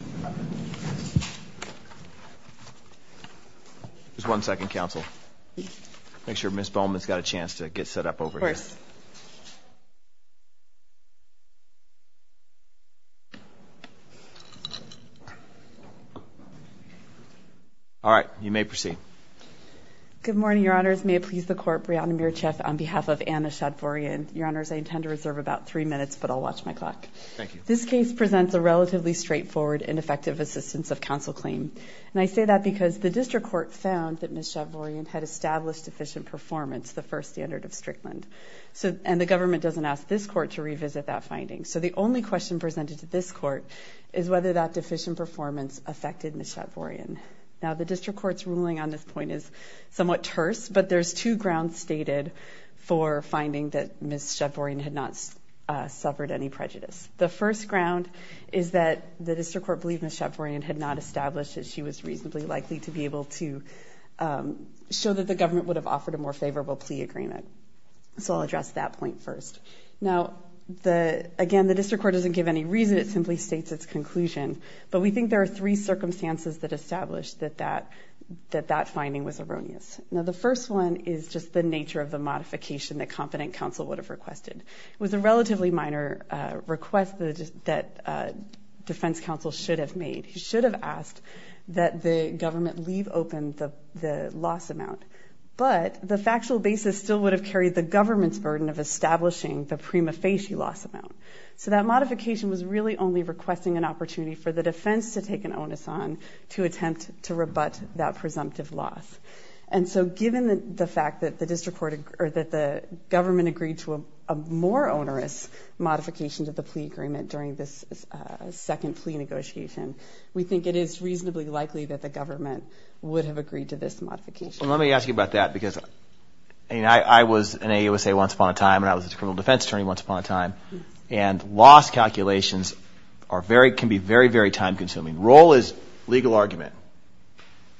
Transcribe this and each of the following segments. Good morning, your honors. May it please the court, Breonna Mircheff on behalf of Anahit Shatvoryan. Your honors, I intend to reserve about three minutes, but I'll watch my clock. Thank you. This case presents a relatively straightforward and effective assistance of counsel claim. And I say that because the district court found that Ms. Shatvoryan had established deficient performance, the first standard of Strickland. So, and the government doesn't ask this court to revisit that finding. So the only question presented to this court is whether that deficient performance affected Ms. Shatvoryan. Now, the district court's ruling on this point is somewhat terse, but there's two grounds stated for finding that Ms. Shatvoryan had not suffered any prejudice. The first ground is that the district court believed Ms. Shatvoryan had not established that she was reasonably likely to be able to show that the government would have offered a more favorable plea agreement. So I'll address that point first. Now, again, the district court doesn't give any reason. It simply states its conclusion, but we think there are three circumstances that establish that that finding was erroneous. Now, the first one is just the nature of the modification that competent counsel would have requested. It was a relatively minor request that defense counsel should have made. He should have asked that the government leave open the loss amount, but the factual basis still would have carried the government's burden of establishing the prima facie loss amount. So that modification was really only requesting an opportunity for the defense to take an onus on to attempt to rebut that presumptive loss. And so given the fact that the district court, or that the government agreed to a more onerous modification to the plea agreement during this second plea negotiation, we think it is reasonably likely that the government would have agreed to this modification. Well, let me ask you about that because, I mean, I was in AUSA once upon a time, and I was a criminal defense attorney once upon a time, and loss calculations can be very, very time consuming. Role is legal argument.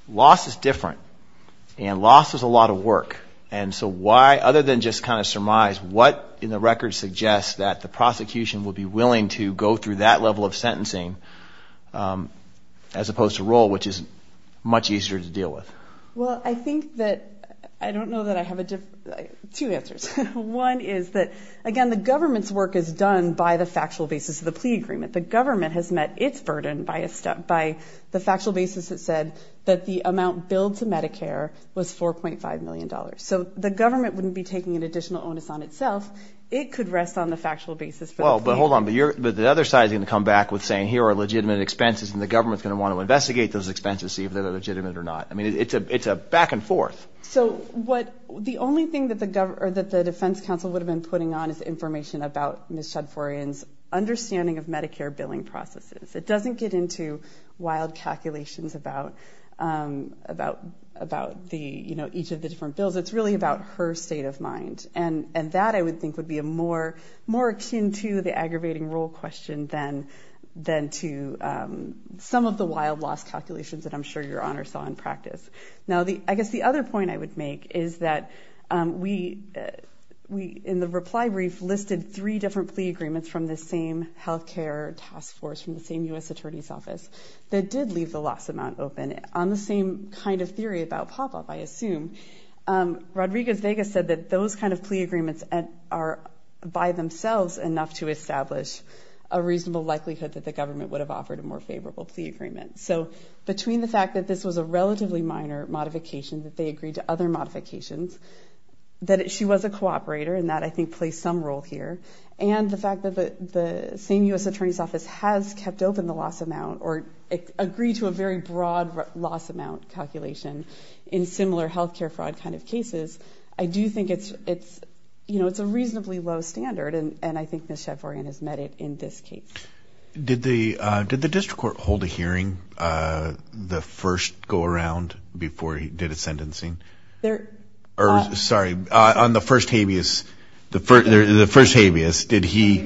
Loss is different, and loss is a lot of work. And so why, other than just kind of surmise, what in the record suggests that the prosecution would be willing to go through that level of sentencing, as opposed to role, which is much easier to deal with? Well, I think that, I don't know that I have two answers. One is that, again, the government's work is done by the factual basis of the plea agreement. The government has met its burden by the factual basis that said that the amount billed to Medicare was $4.5 million. So the government wouldn't be taking an additional onus on itself. It could rest on the factual basis. Well, but hold on, but the other side is going to come back with saying, here are legitimate expenses, and the government's going to want to investigate those expenses, see if they're legitimate or not. I mean, it's a back and forth. So what, the only thing that the defense counsel would have been putting on is information about Ms. Chadforian's understanding of Medicare billing processes. It doesn't get into wild calculations about each of the different bills. It's really about her state of mind. And that, I would think, would be more akin to the aggravating role question than to some of the wild loss calculations that I'm sure your Honor saw in practice. Now, I guess the other point I would make is that we, in the reply brief, listed three different plea agreements from the same healthcare task force, from the same U.S. Attorney's Office, that did leave the loss amount open. On the same kind of theory about pop-up, I assume, Rodriguez-Vegas said that those kind of plea agreements are by themselves enough to establish a reasonable likelihood that the government would have offered a more favorable plea agreement. So between the fact that this was a relatively minor modification, that they and the fact that the same U.S. Attorney's Office has kept open the loss amount or agreed to a very broad loss amount calculation in similar healthcare fraud kind of cases, I do think it's a reasonably low standard. And I think Ms. Chadforian has met it in this case. Did the district court hold a hearing, the first go-around, before he did his sentencing? There, sorry, on the first habeas, the first habeas, did he,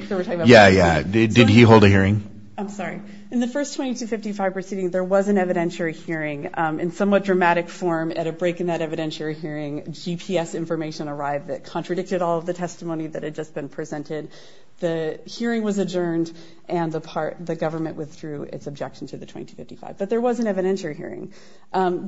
yeah, yeah, did he hold a hearing? I'm sorry. In the first 2255 proceeding, there was an evidentiary hearing in somewhat dramatic form at a break in that evidentiary hearing. GPS information arrived that contradicted all of the testimony that had just been presented. The hearing was adjourned and the part, the government withdrew its objection to the 2255. But there was an evidentiary hearing.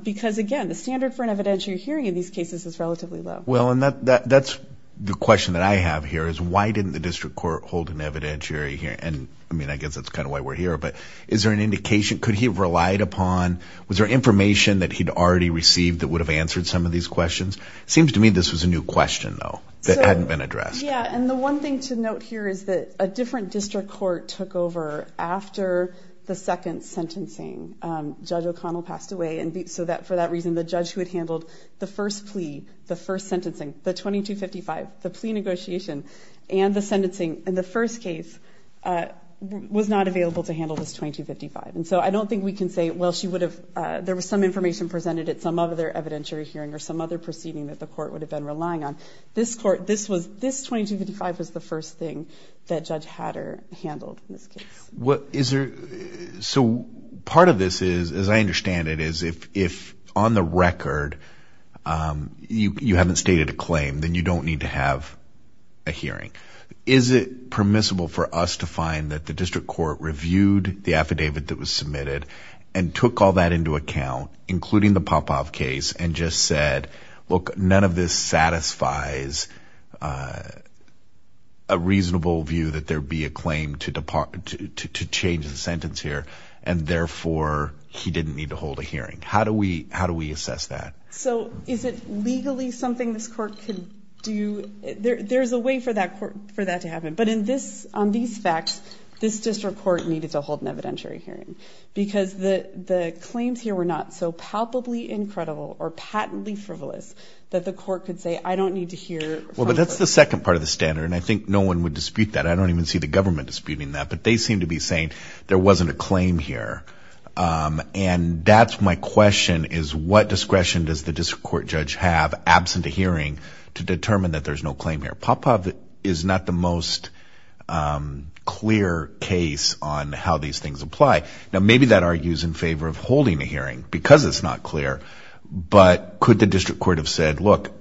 Because again, the standard for an evidentiary hearing in these cases is relatively low. Well, and that's the question that I have here, is why didn't the district court hold an evidentiary hearing? And I mean, I guess that's kind of why we're here, but is there an indication, could he have relied upon, was there information that he'd already received that would have answered some of these questions? It seems to me this was a new question, though, that hadn't been addressed. Yeah. And the one thing to note here is that a different district court took over after the second sentencing. Judge O'Connell passed away. And so that, for that reason, the judge who had handled the first plea, the first sentencing, the 2255, the plea negotiation and the sentencing in the first case was not available to handle this 2255. And so I don't think we can say, well, she would have, there was some information presented at some other evidentiary hearing or some other proceeding that the court would have been relying on. This court, this was, this 2255 was the first thing that Judge Hatter handled in this case. Is there, so part of this is, as I understand it, is if on the record you haven't stated a claim, then you don't need to have a hearing. Is it permissible for us to find that the district court reviewed the affidavit that was submitted and took all that into account, including the Popov case and just said, look, none of this satisfies a reasonable view that there be a claim to change the sentence here and therefore he didn't need to hold a hearing? How do we assess that? So is it legally something this court could do? There's a way for that court, for that to happen. But in this, on these facts, this district court needed to hold an evidentiary hearing because the claims here were not so palpably incredible or patently frivolous that the court could say, I don't need to hear. Well, but that's the second part of the standard. And I think no one would dispute that. I don't even see the government disputing that, but they seem to be saying there wasn't a claim here. And that's my question is what discretion does the district court judge have absent a hearing to determine that there's no claim here? Popov is not the most clear case on how these things apply. Now, maybe that argues in favor of holding a hearing because it's not clear, but could the district court have said, look,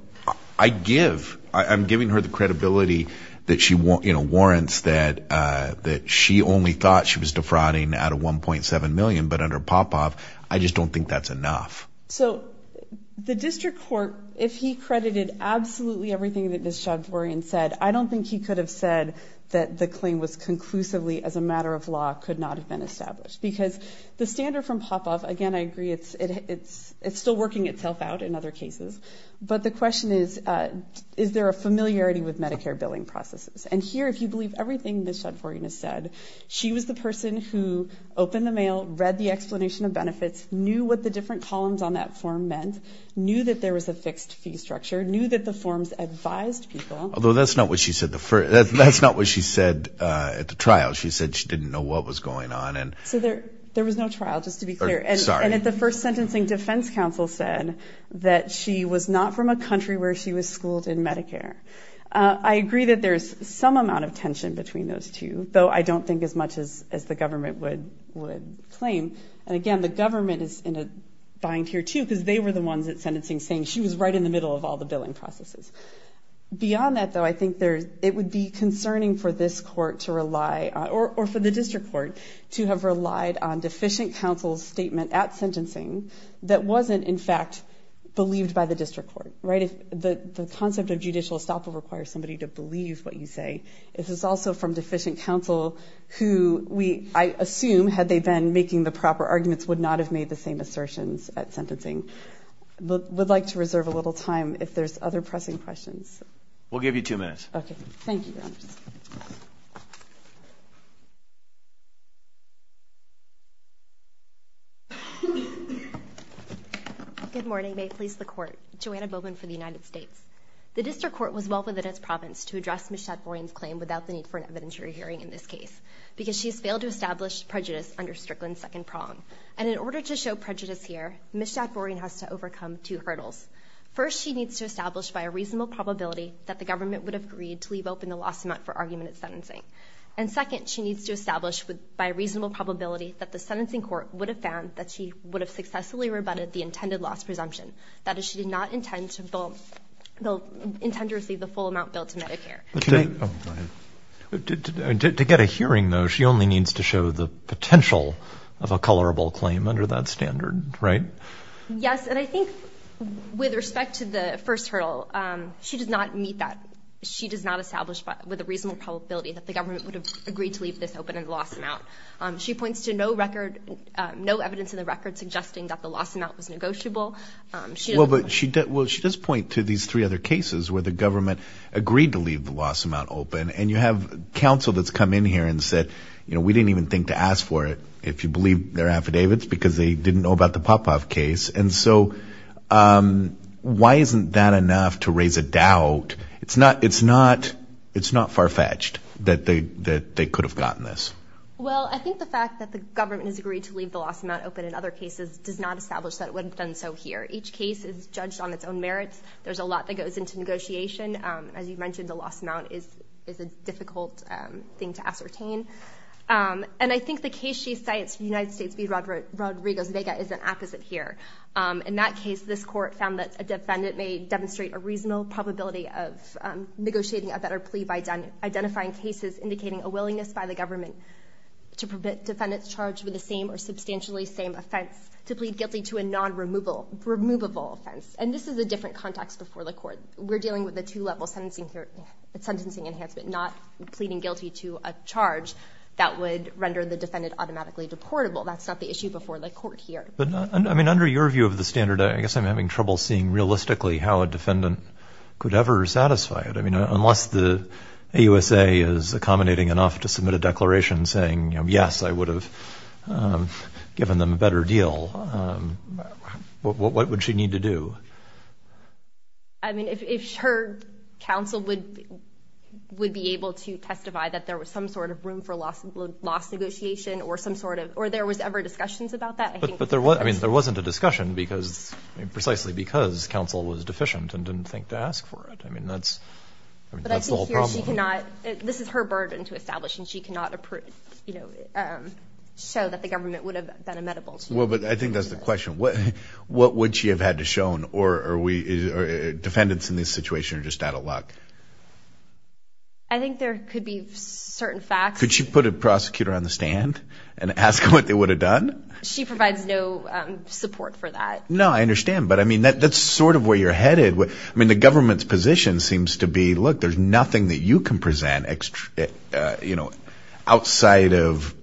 I give, I'm giving her the credibility that she won't, you know, warrants that, that she only thought she was defrauding out of 1.7 million, but under Popov, I just don't think that's enough. So the district court, if he credited absolutely everything that Ms. Javorian said, I don't think he could have said that the claim was conclusively as a matter of law could not have been established because the standard from Popov, again, I agree it's, it's, it's still working itself out in other cases, but the question is, is there a familiarity with Medicare billing processes? And here, if you believe everything Ms. Javorian has said, she was the person who opened the mail, read the explanation of benefits, knew what the different columns on that form meant, knew that there was a fixed fee structure, knew that the forms advised people. Although that's not what she said the first, that's not what she said at the trial. She said she didn't know what was going on. And so there, there was no trial just to be clear. And at the first sentencing defense council said that she was not from a country where she was schooled in Medicare. Uh, I agree that there's some amount of tension between those two, though I don't think as much as, as the government would, would claim. And again, the government is in a bind here too, because they were the ones that sentencing saying she was right in the middle of all the billing processes. Beyond that though, I think there's, it would be concerning for this court to rely or for the district court to have relied on deficient counsel's statement at sentencing that wasn't in fact believed by the district court, right? If the concept of judicial estoppel requires somebody to believe what you say, if it's also from deficient counsel who we, I assume, had they been making the proper arguments would not have made the same assertions at sentencing. Would like to reserve a little time if there's other pressing questions. We'll give you two minutes. Okay. Thank you. Good morning. May it please the court. Joanna Bowman for the United States. The district court was well within its province to address Ms. Schafforian's claim without the need for an evidentiary hearing in this case, because she has failed to establish prejudice under Strickland's second prong. And in order to show prejudice here, Ms. Schafforian has to overcome two hurdles. First, she needs to establish by a reasonable probability that the government would have agreed to leave open the loss amount for argument at sentencing. And second, she needs to establish by a reasonable probability that the sentencing court would have found that she would have successfully rebutted the intended loss presumption. That is, she did not intend to receive the full amount billed to Medicare. To get a hearing though, she only needs to show the potential of a colorable claim under that standard, right? Yes. And I think with respect to the first hurdle, she does not meet that. She does not establish with a reasonable probability that the government would have agreed to leave this open in the loss amount. She points to no record, no evidence in the record suggesting that the loss amount was negotiable. Well, she does point to these three other cases where the government agreed to leave the loss amount open. And you have counsel that's in here and said, you know, we didn't even think to ask for it if you believe their affidavits because they didn't know about the Popov case. And so why isn't that enough to raise a doubt? It's not farfetched that they could have gotten this. Well, I think the fact that the government has agreed to leave the loss amount open in other cases does not establish that it would have done so here. Each case is judged on its own merits. There's a lot that goes into negotiation. As you mentioned, the loss amount is a difficult thing to ascertain. And I think the case she cites, United States v. Rodriguez Vega, is an apposite here. In that case, this court found that a defendant may demonstrate a reasonable probability of negotiating a better plea by identifying cases indicating a willingness by the government to permit defendants charged with the same or substantially same offense to plead guilty to a non-removable offense. And this is a two-level sentencing enhancement, not pleading guilty to a charge that would render the defendant automatically deportable. That's not the issue before the court here. But I mean, under your view of the standard, I guess I'm having trouble seeing realistically how a defendant could ever satisfy it. I mean, unless the AUSA is accommodating enough to submit a declaration saying, yes, I would have given them a better deal, what would she need to do? I mean, if her counsel would be able to testify that there was some sort of room for loss negotiation or some sort of, or there was ever discussions about that, I think. But there wasn't a discussion because, precisely because counsel was deficient and didn't think to ask for it. I mean, that's the whole problem. But I think here she cannot, this is her burden to establish, and she cannot show that the government would have been amenable to her. But I think that's the question. What would she have had to show, or defendants in this situation are just out of luck? I think there could be certain facts. Could she put a prosecutor on the stand and ask what they would have done? She provides no support for that. No, I understand. But I mean, that's sort of where you're headed. I mean, the government's position seems to be, look, there's nothing that you can present extra, you know, outside of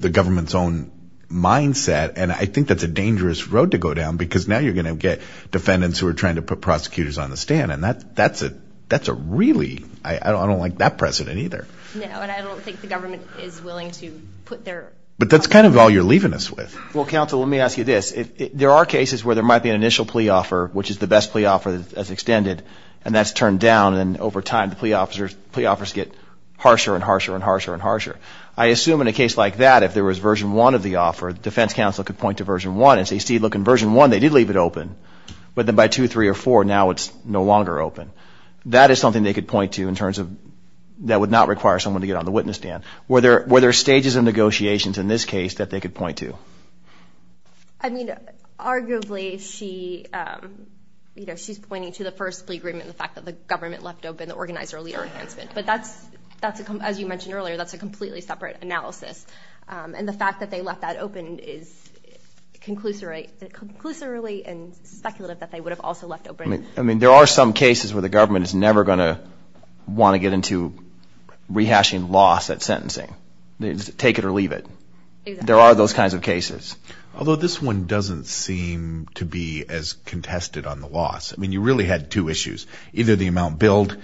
the government's own mindset. And I think that's a dangerous road to go down because now you're going to get defendants who are trying to put prosecutors on the stand. And that's a really, I don't like that precedent either. No, and I don't think the government is willing to put their... But that's kind of all you're leaving us with. Well, counsel, let me ask you this. There are cases where there might be an initial plea offer, which is the best plea offer that's extended. And that's turned down. And over time, plea offers get harsher and harsher and harsher and harsher. I assume in a case like that, if there was version one of the offer, defense counsel could point to version one and say, see, look, in version one, they did leave it open. But then by two, three or four, now it's no longer open. That is something they could point to in terms of that would not require someone to get on the witness stand. Were there stages of negotiations in this case that they could point to? I mean, arguably, she's pointing to the first plea agreement, the fact that the government left open the organizer leader enhancement. But that's, as you mentioned earlier, that's a completely separate analysis. And the fact that they left that open is conclusively and speculative that they would have also left open... I mean, there are some cases where the government is never going to want to get into rehashing loss at sentencing. Take it or leave it. There are those kinds of cases. Although this one doesn't seem to be as contested on the loss. I mean, you really had two issues, either the amount billed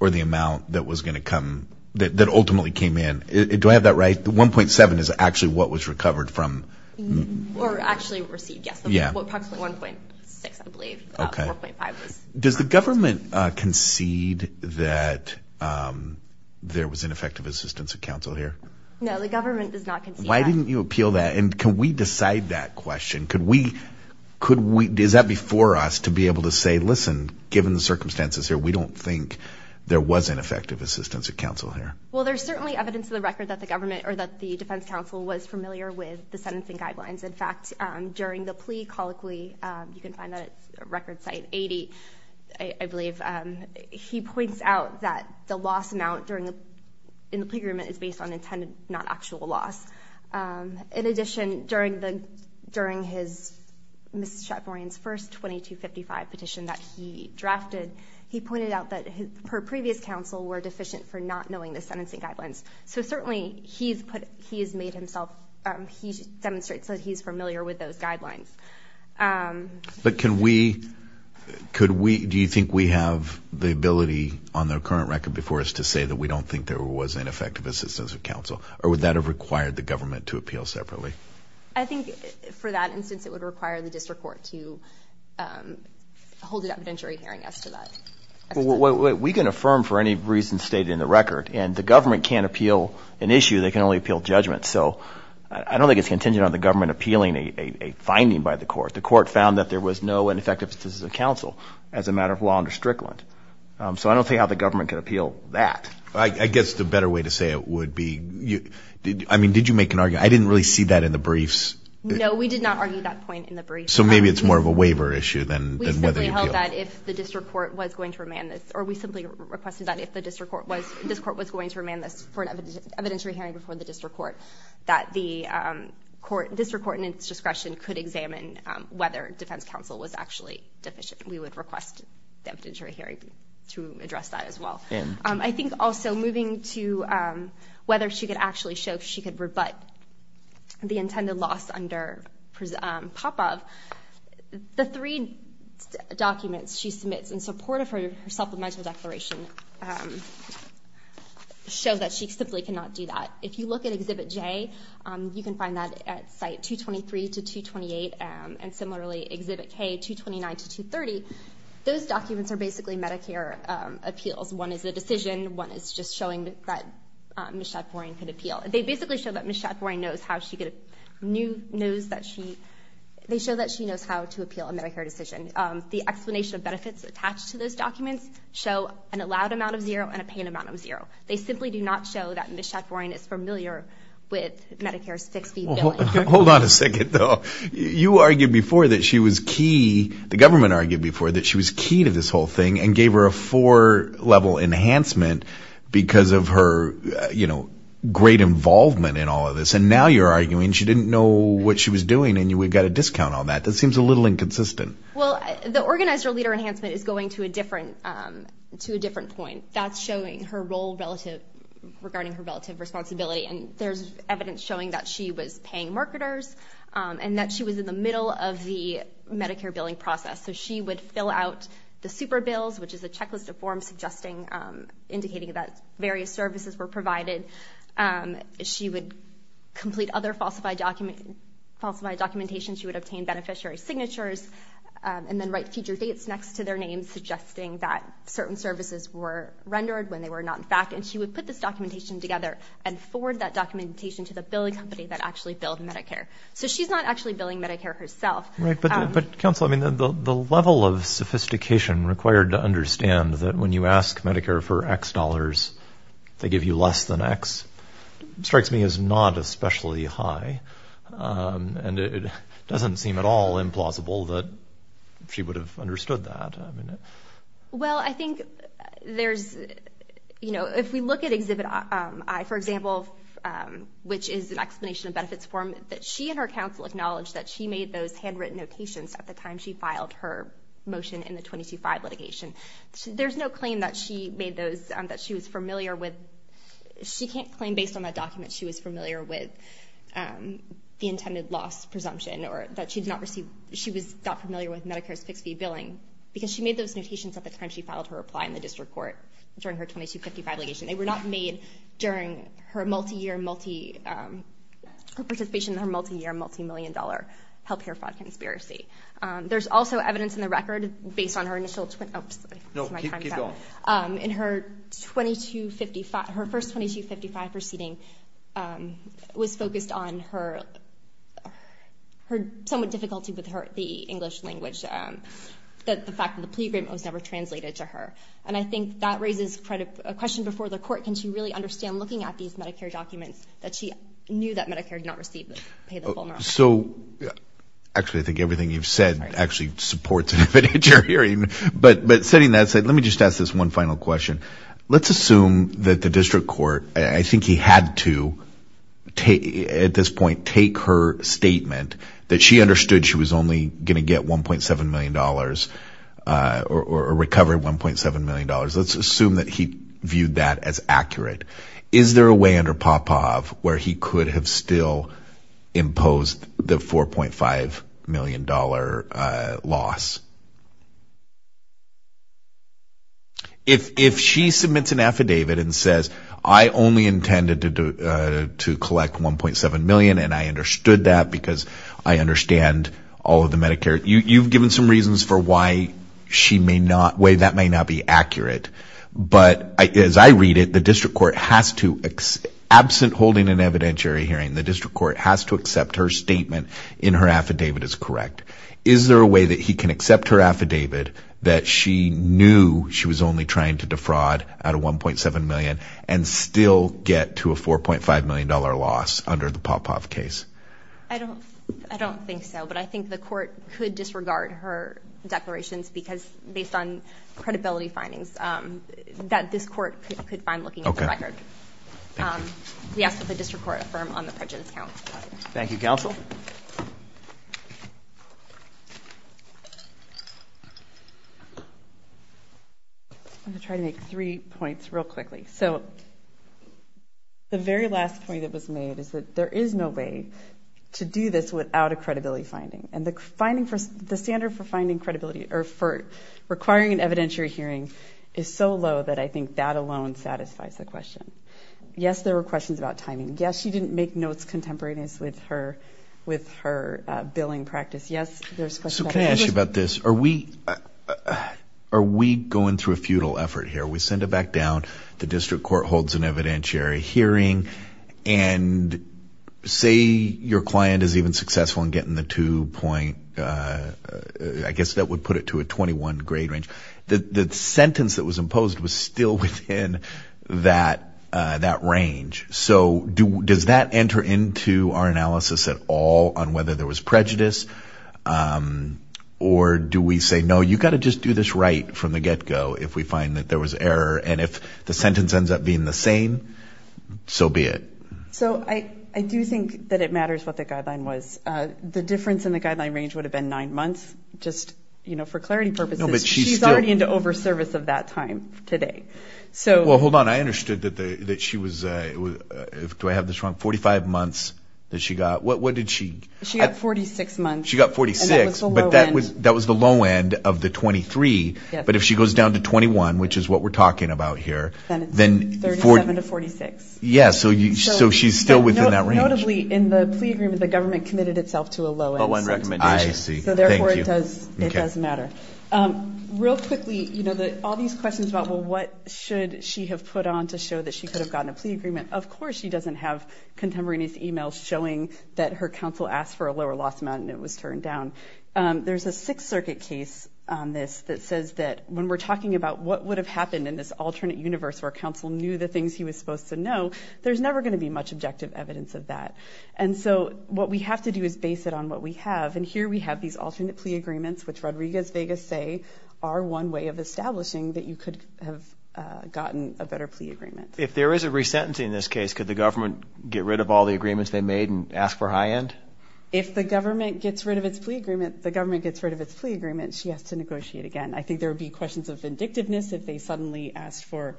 or the amount that was going to come, that ultimately came in. Do I have that right? The 1.7 is actually what was recovered from... Or actually received, yes. Approximately 1.6, I believe. 4.5 was... Does the government concede that there was ineffective assistance of counsel here? No, the government does not concede that. Why didn't you appeal that? And can we decide that question? Could we... Is that before us to be able to say, listen, given the circumstances here, we don't think there was ineffective assistance of counsel here? Well, there's certainly evidence in the record that the government or that the defense counsel was familiar with the sentencing guidelines. In fact, during the plea colloquy, you can find that at record site 80, I believe, he points out that the loss amount in the agreement is based on Ms. Chapmarian's first 2255 petition that he drafted. He pointed out that her previous counsel were deficient for not knowing the sentencing guidelines. So certainly, he has made himself... He demonstrates that he's familiar with those guidelines. But can we... Do you think we have the ability on the current record before us to say that we don't think there was ineffective assistance of counsel? Or would that have required the district court to hold it evidentiary hearing as to that? We can affirm for any reason stated in the record. And the government can't appeal an issue, they can only appeal judgment. So I don't think it's contingent on the government appealing a finding by the court. The court found that there was no ineffective assistance of counsel as a matter of law under Strickland. So I don't see how the government could appeal that. I guess the better way to say it would be... I mean, did you make an argument? I didn't really see that in the briefs. No, we did not argue that point in the brief. So maybe it's more of a waiver issue than whether you appeal. We simply held that if the district court was going to remand this, or we simply requested that if the district court was going to remand this for an evidentiary hearing before the district court, that the district court in its discretion could examine whether defense counsel was actually deficient. We would request the evidentiary hearing to address that as well. I think also moving to whether she could actually show she could rebut the intended loss under Popov, the three documents she submits in support of her supplemental declaration show that she simply cannot do that. If you look at Exhibit J, you can find that at Site 223 to 228, and similarly Exhibit K, 229 to 230. Those documents are basically Medicare appeals. One is a decision, one is just showing that Ms. Schafforian could appeal. They basically show that Ms. Schafforian knows how to appeal a Medicare decision. The explanation of benefits attached to those documents show an allowed amount of zero and a pain amount of zero. They simply do not show that Ms. Schafforian is familiar with Medicare's fixed-fee billing. Hold on a second, though. You argued before that she was key, the government argued before, to this whole thing and gave her a four-level enhancement because of her great involvement in all of this, and now you're arguing she didn't know what she was doing and we've got a discount on that. That seems a little inconsistent. Well, the organizer-leader enhancement is going to a different point. That's showing her role regarding her relative responsibility, and there's evidence showing that she was paying marketers and that she was in the Medicare billing process. She would fill out the super bills, which is a checklist of forms indicating that various services were provided. She would complete other falsified documentation. She would obtain beneficiary signatures and then write future dates next to their names suggesting that certain services were rendered when they were not in fact. She would put this documentation together and forward that documentation to the billing company that actually billed Medicare. So she's not actually billing Medicare herself. Right, but counsel, I mean, the level of sophistication required to understand that when you ask Medicare for X dollars, they give you less than X, strikes me as not especially high, and it doesn't seem at all implausible that she would have understood that. Well, I think there's, you know, if we look at Exhibit I, for example, which is an explanation of benefits form that she and her counsel acknowledged that she made those handwritten notations at the time she filed her motion in the 22-5 litigation. There's no claim that she made those, that she was familiar with. She can't claim based on that document she was familiar with the intended loss presumption or that she did not receive, she was not familiar with Medicare's fixed fee billing because she made those notations at the time she filed her reply in the district court during her 22-55 litigation. They were not made during her multi-year, multi, her participation in her multi-year, multi-million dollar healthcare fraud conspiracy. There's also evidence in the record based on her initial, oops, no, keep going, in her 22-55, her first 22-55 proceeding was focused on her, her somewhat difficulty with her, the English language, that the fact that the plea agreement was never translated to her. And I think that raises a question before the court, can she really understand looking at these Medicare documents that she knew that Medicare did not receive, pay the full amount? So, actually, I think everything you've said actually supports what you're hearing. But, but setting that aside, let me just ask this one final question. Let's assume that the district court, I think he had to take, at this point, take her statement that she understood she was only going to get $1.7 million or recover $1.7 million. Let's assume that he viewed that as accurate. Is there a way under Popov where he could have still imposed the $4.5 million loss? If she submits an affidavit and says I only intended to collect $1.7 million and I understood that because I understand all of the why she may not, why that may not be accurate. But as I read it, the district court has to, absent holding an evidentiary hearing, the district court has to accept her statement in her affidavit as correct. Is there a way that he can accept her affidavit that she knew she was only trying to defraud out of $1.7 million and still get to a $4.5 million loss under the Popov case? I don't think so, but I think the court could disregard her declarations based on credibility findings that this court could find looking at the record. We ask that the district court affirm on the prejudice count. Thank you, counsel. I'm going to try to make three points real quickly. So very last point that was made is that there is no way to do this without a credibility finding. And the standard for finding credibility or for requiring an evidentiary hearing is so low that I think that alone satisfies the question. Yes, there were questions about timing. Yes, she didn't make notes contemporaneous with her billing practice. Yes, there's questions. Sue, can I ask you about this? Are we going through a futile effort here? We send it back down, the district court holds an evidentiary hearing and say your client is even successful in getting the two point, I guess that would put it to a 21 grade range. The sentence that was imposed was still within that range. So does that enter into our analysis at all on whether there was prejudice or do we say, no, you've got to just do this right from the get go if we find that there is error and if the sentence ends up being the same, so be it. So I do think that it matters what the guideline was. The difference in the guideline range would have been nine months, just for clarity purposes. She's already into over service of that time today. Well, hold on. I understood that she was, do I have this wrong, 45 months that she got? What did she? She got 46 months. She got 46, but that was the low end of the 23. But if she goes down to 21, which is what we're talking about here, then 37 to 46. Yeah. So she's still within that range. Notably in the plea agreement, the government committed itself to a low end recommendation. So therefore it does matter. Real quickly, all these questions about, well, what should she have put on to show that she could have gotten a plea agreement? Of course she doesn't have contemporaneous emails showing that her counsel asked for a lower loss amount and it was turned down. There's a would have happened in this alternate universe where counsel knew the things he was supposed to know. There's never going to be much objective evidence of that. And so what we have to do is base it on what we have. And here we have these alternate plea agreements, which Rodriguez Vegas say are one way of establishing that you could have gotten a better plea agreement. If there is a resentencing in this case, could the government get rid of all the agreements they made and ask for high end? If the government gets rid of its plea agreement, the government gets rid of its plea agreement. She has to negotiate again. I think there would be questions of vindictiveness if they suddenly asked for,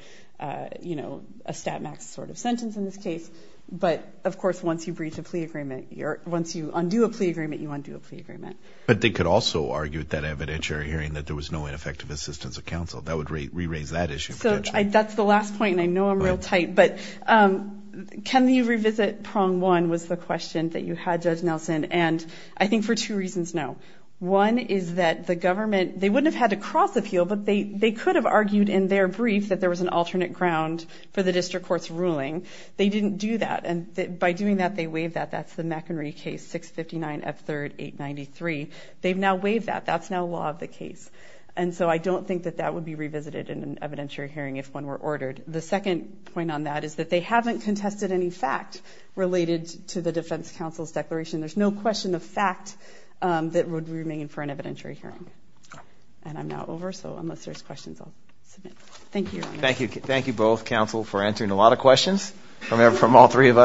you know, a stat max sort of sentence in this case. But of course, once you breach a plea agreement, once you undo a plea agreement, you undo a plea agreement. But they could also argue that evidentiary hearing that there was no ineffective assistance of counsel. That would re-raise that issue. So that's the last point. And I know I'm real tight, but can you revisit prong one was the question that you had Judge Nelson. And I think for two reasons now, one is that the government, they wouldn't have had to cross the field, but they could have argued in their brief that there was an alternate ground for the district court's ruling. They didn't do that. And by doing that, they waived that. That's the McHenry case, 659 F3rd 893. They've now waived that. That's now law of the case. And so I don't think that that would be revisited in an evidentiary hearing if one were ordered. The second point on that is that they haven't contested any fact related to the defense counsel's declaration. There's no question of fact that would remain for an evidentiary hearing. And I'm now over. So unless there's questions, I'll submit. Thank you. Thank you. Thank you both counsel for answering a lot of questions from all three of us.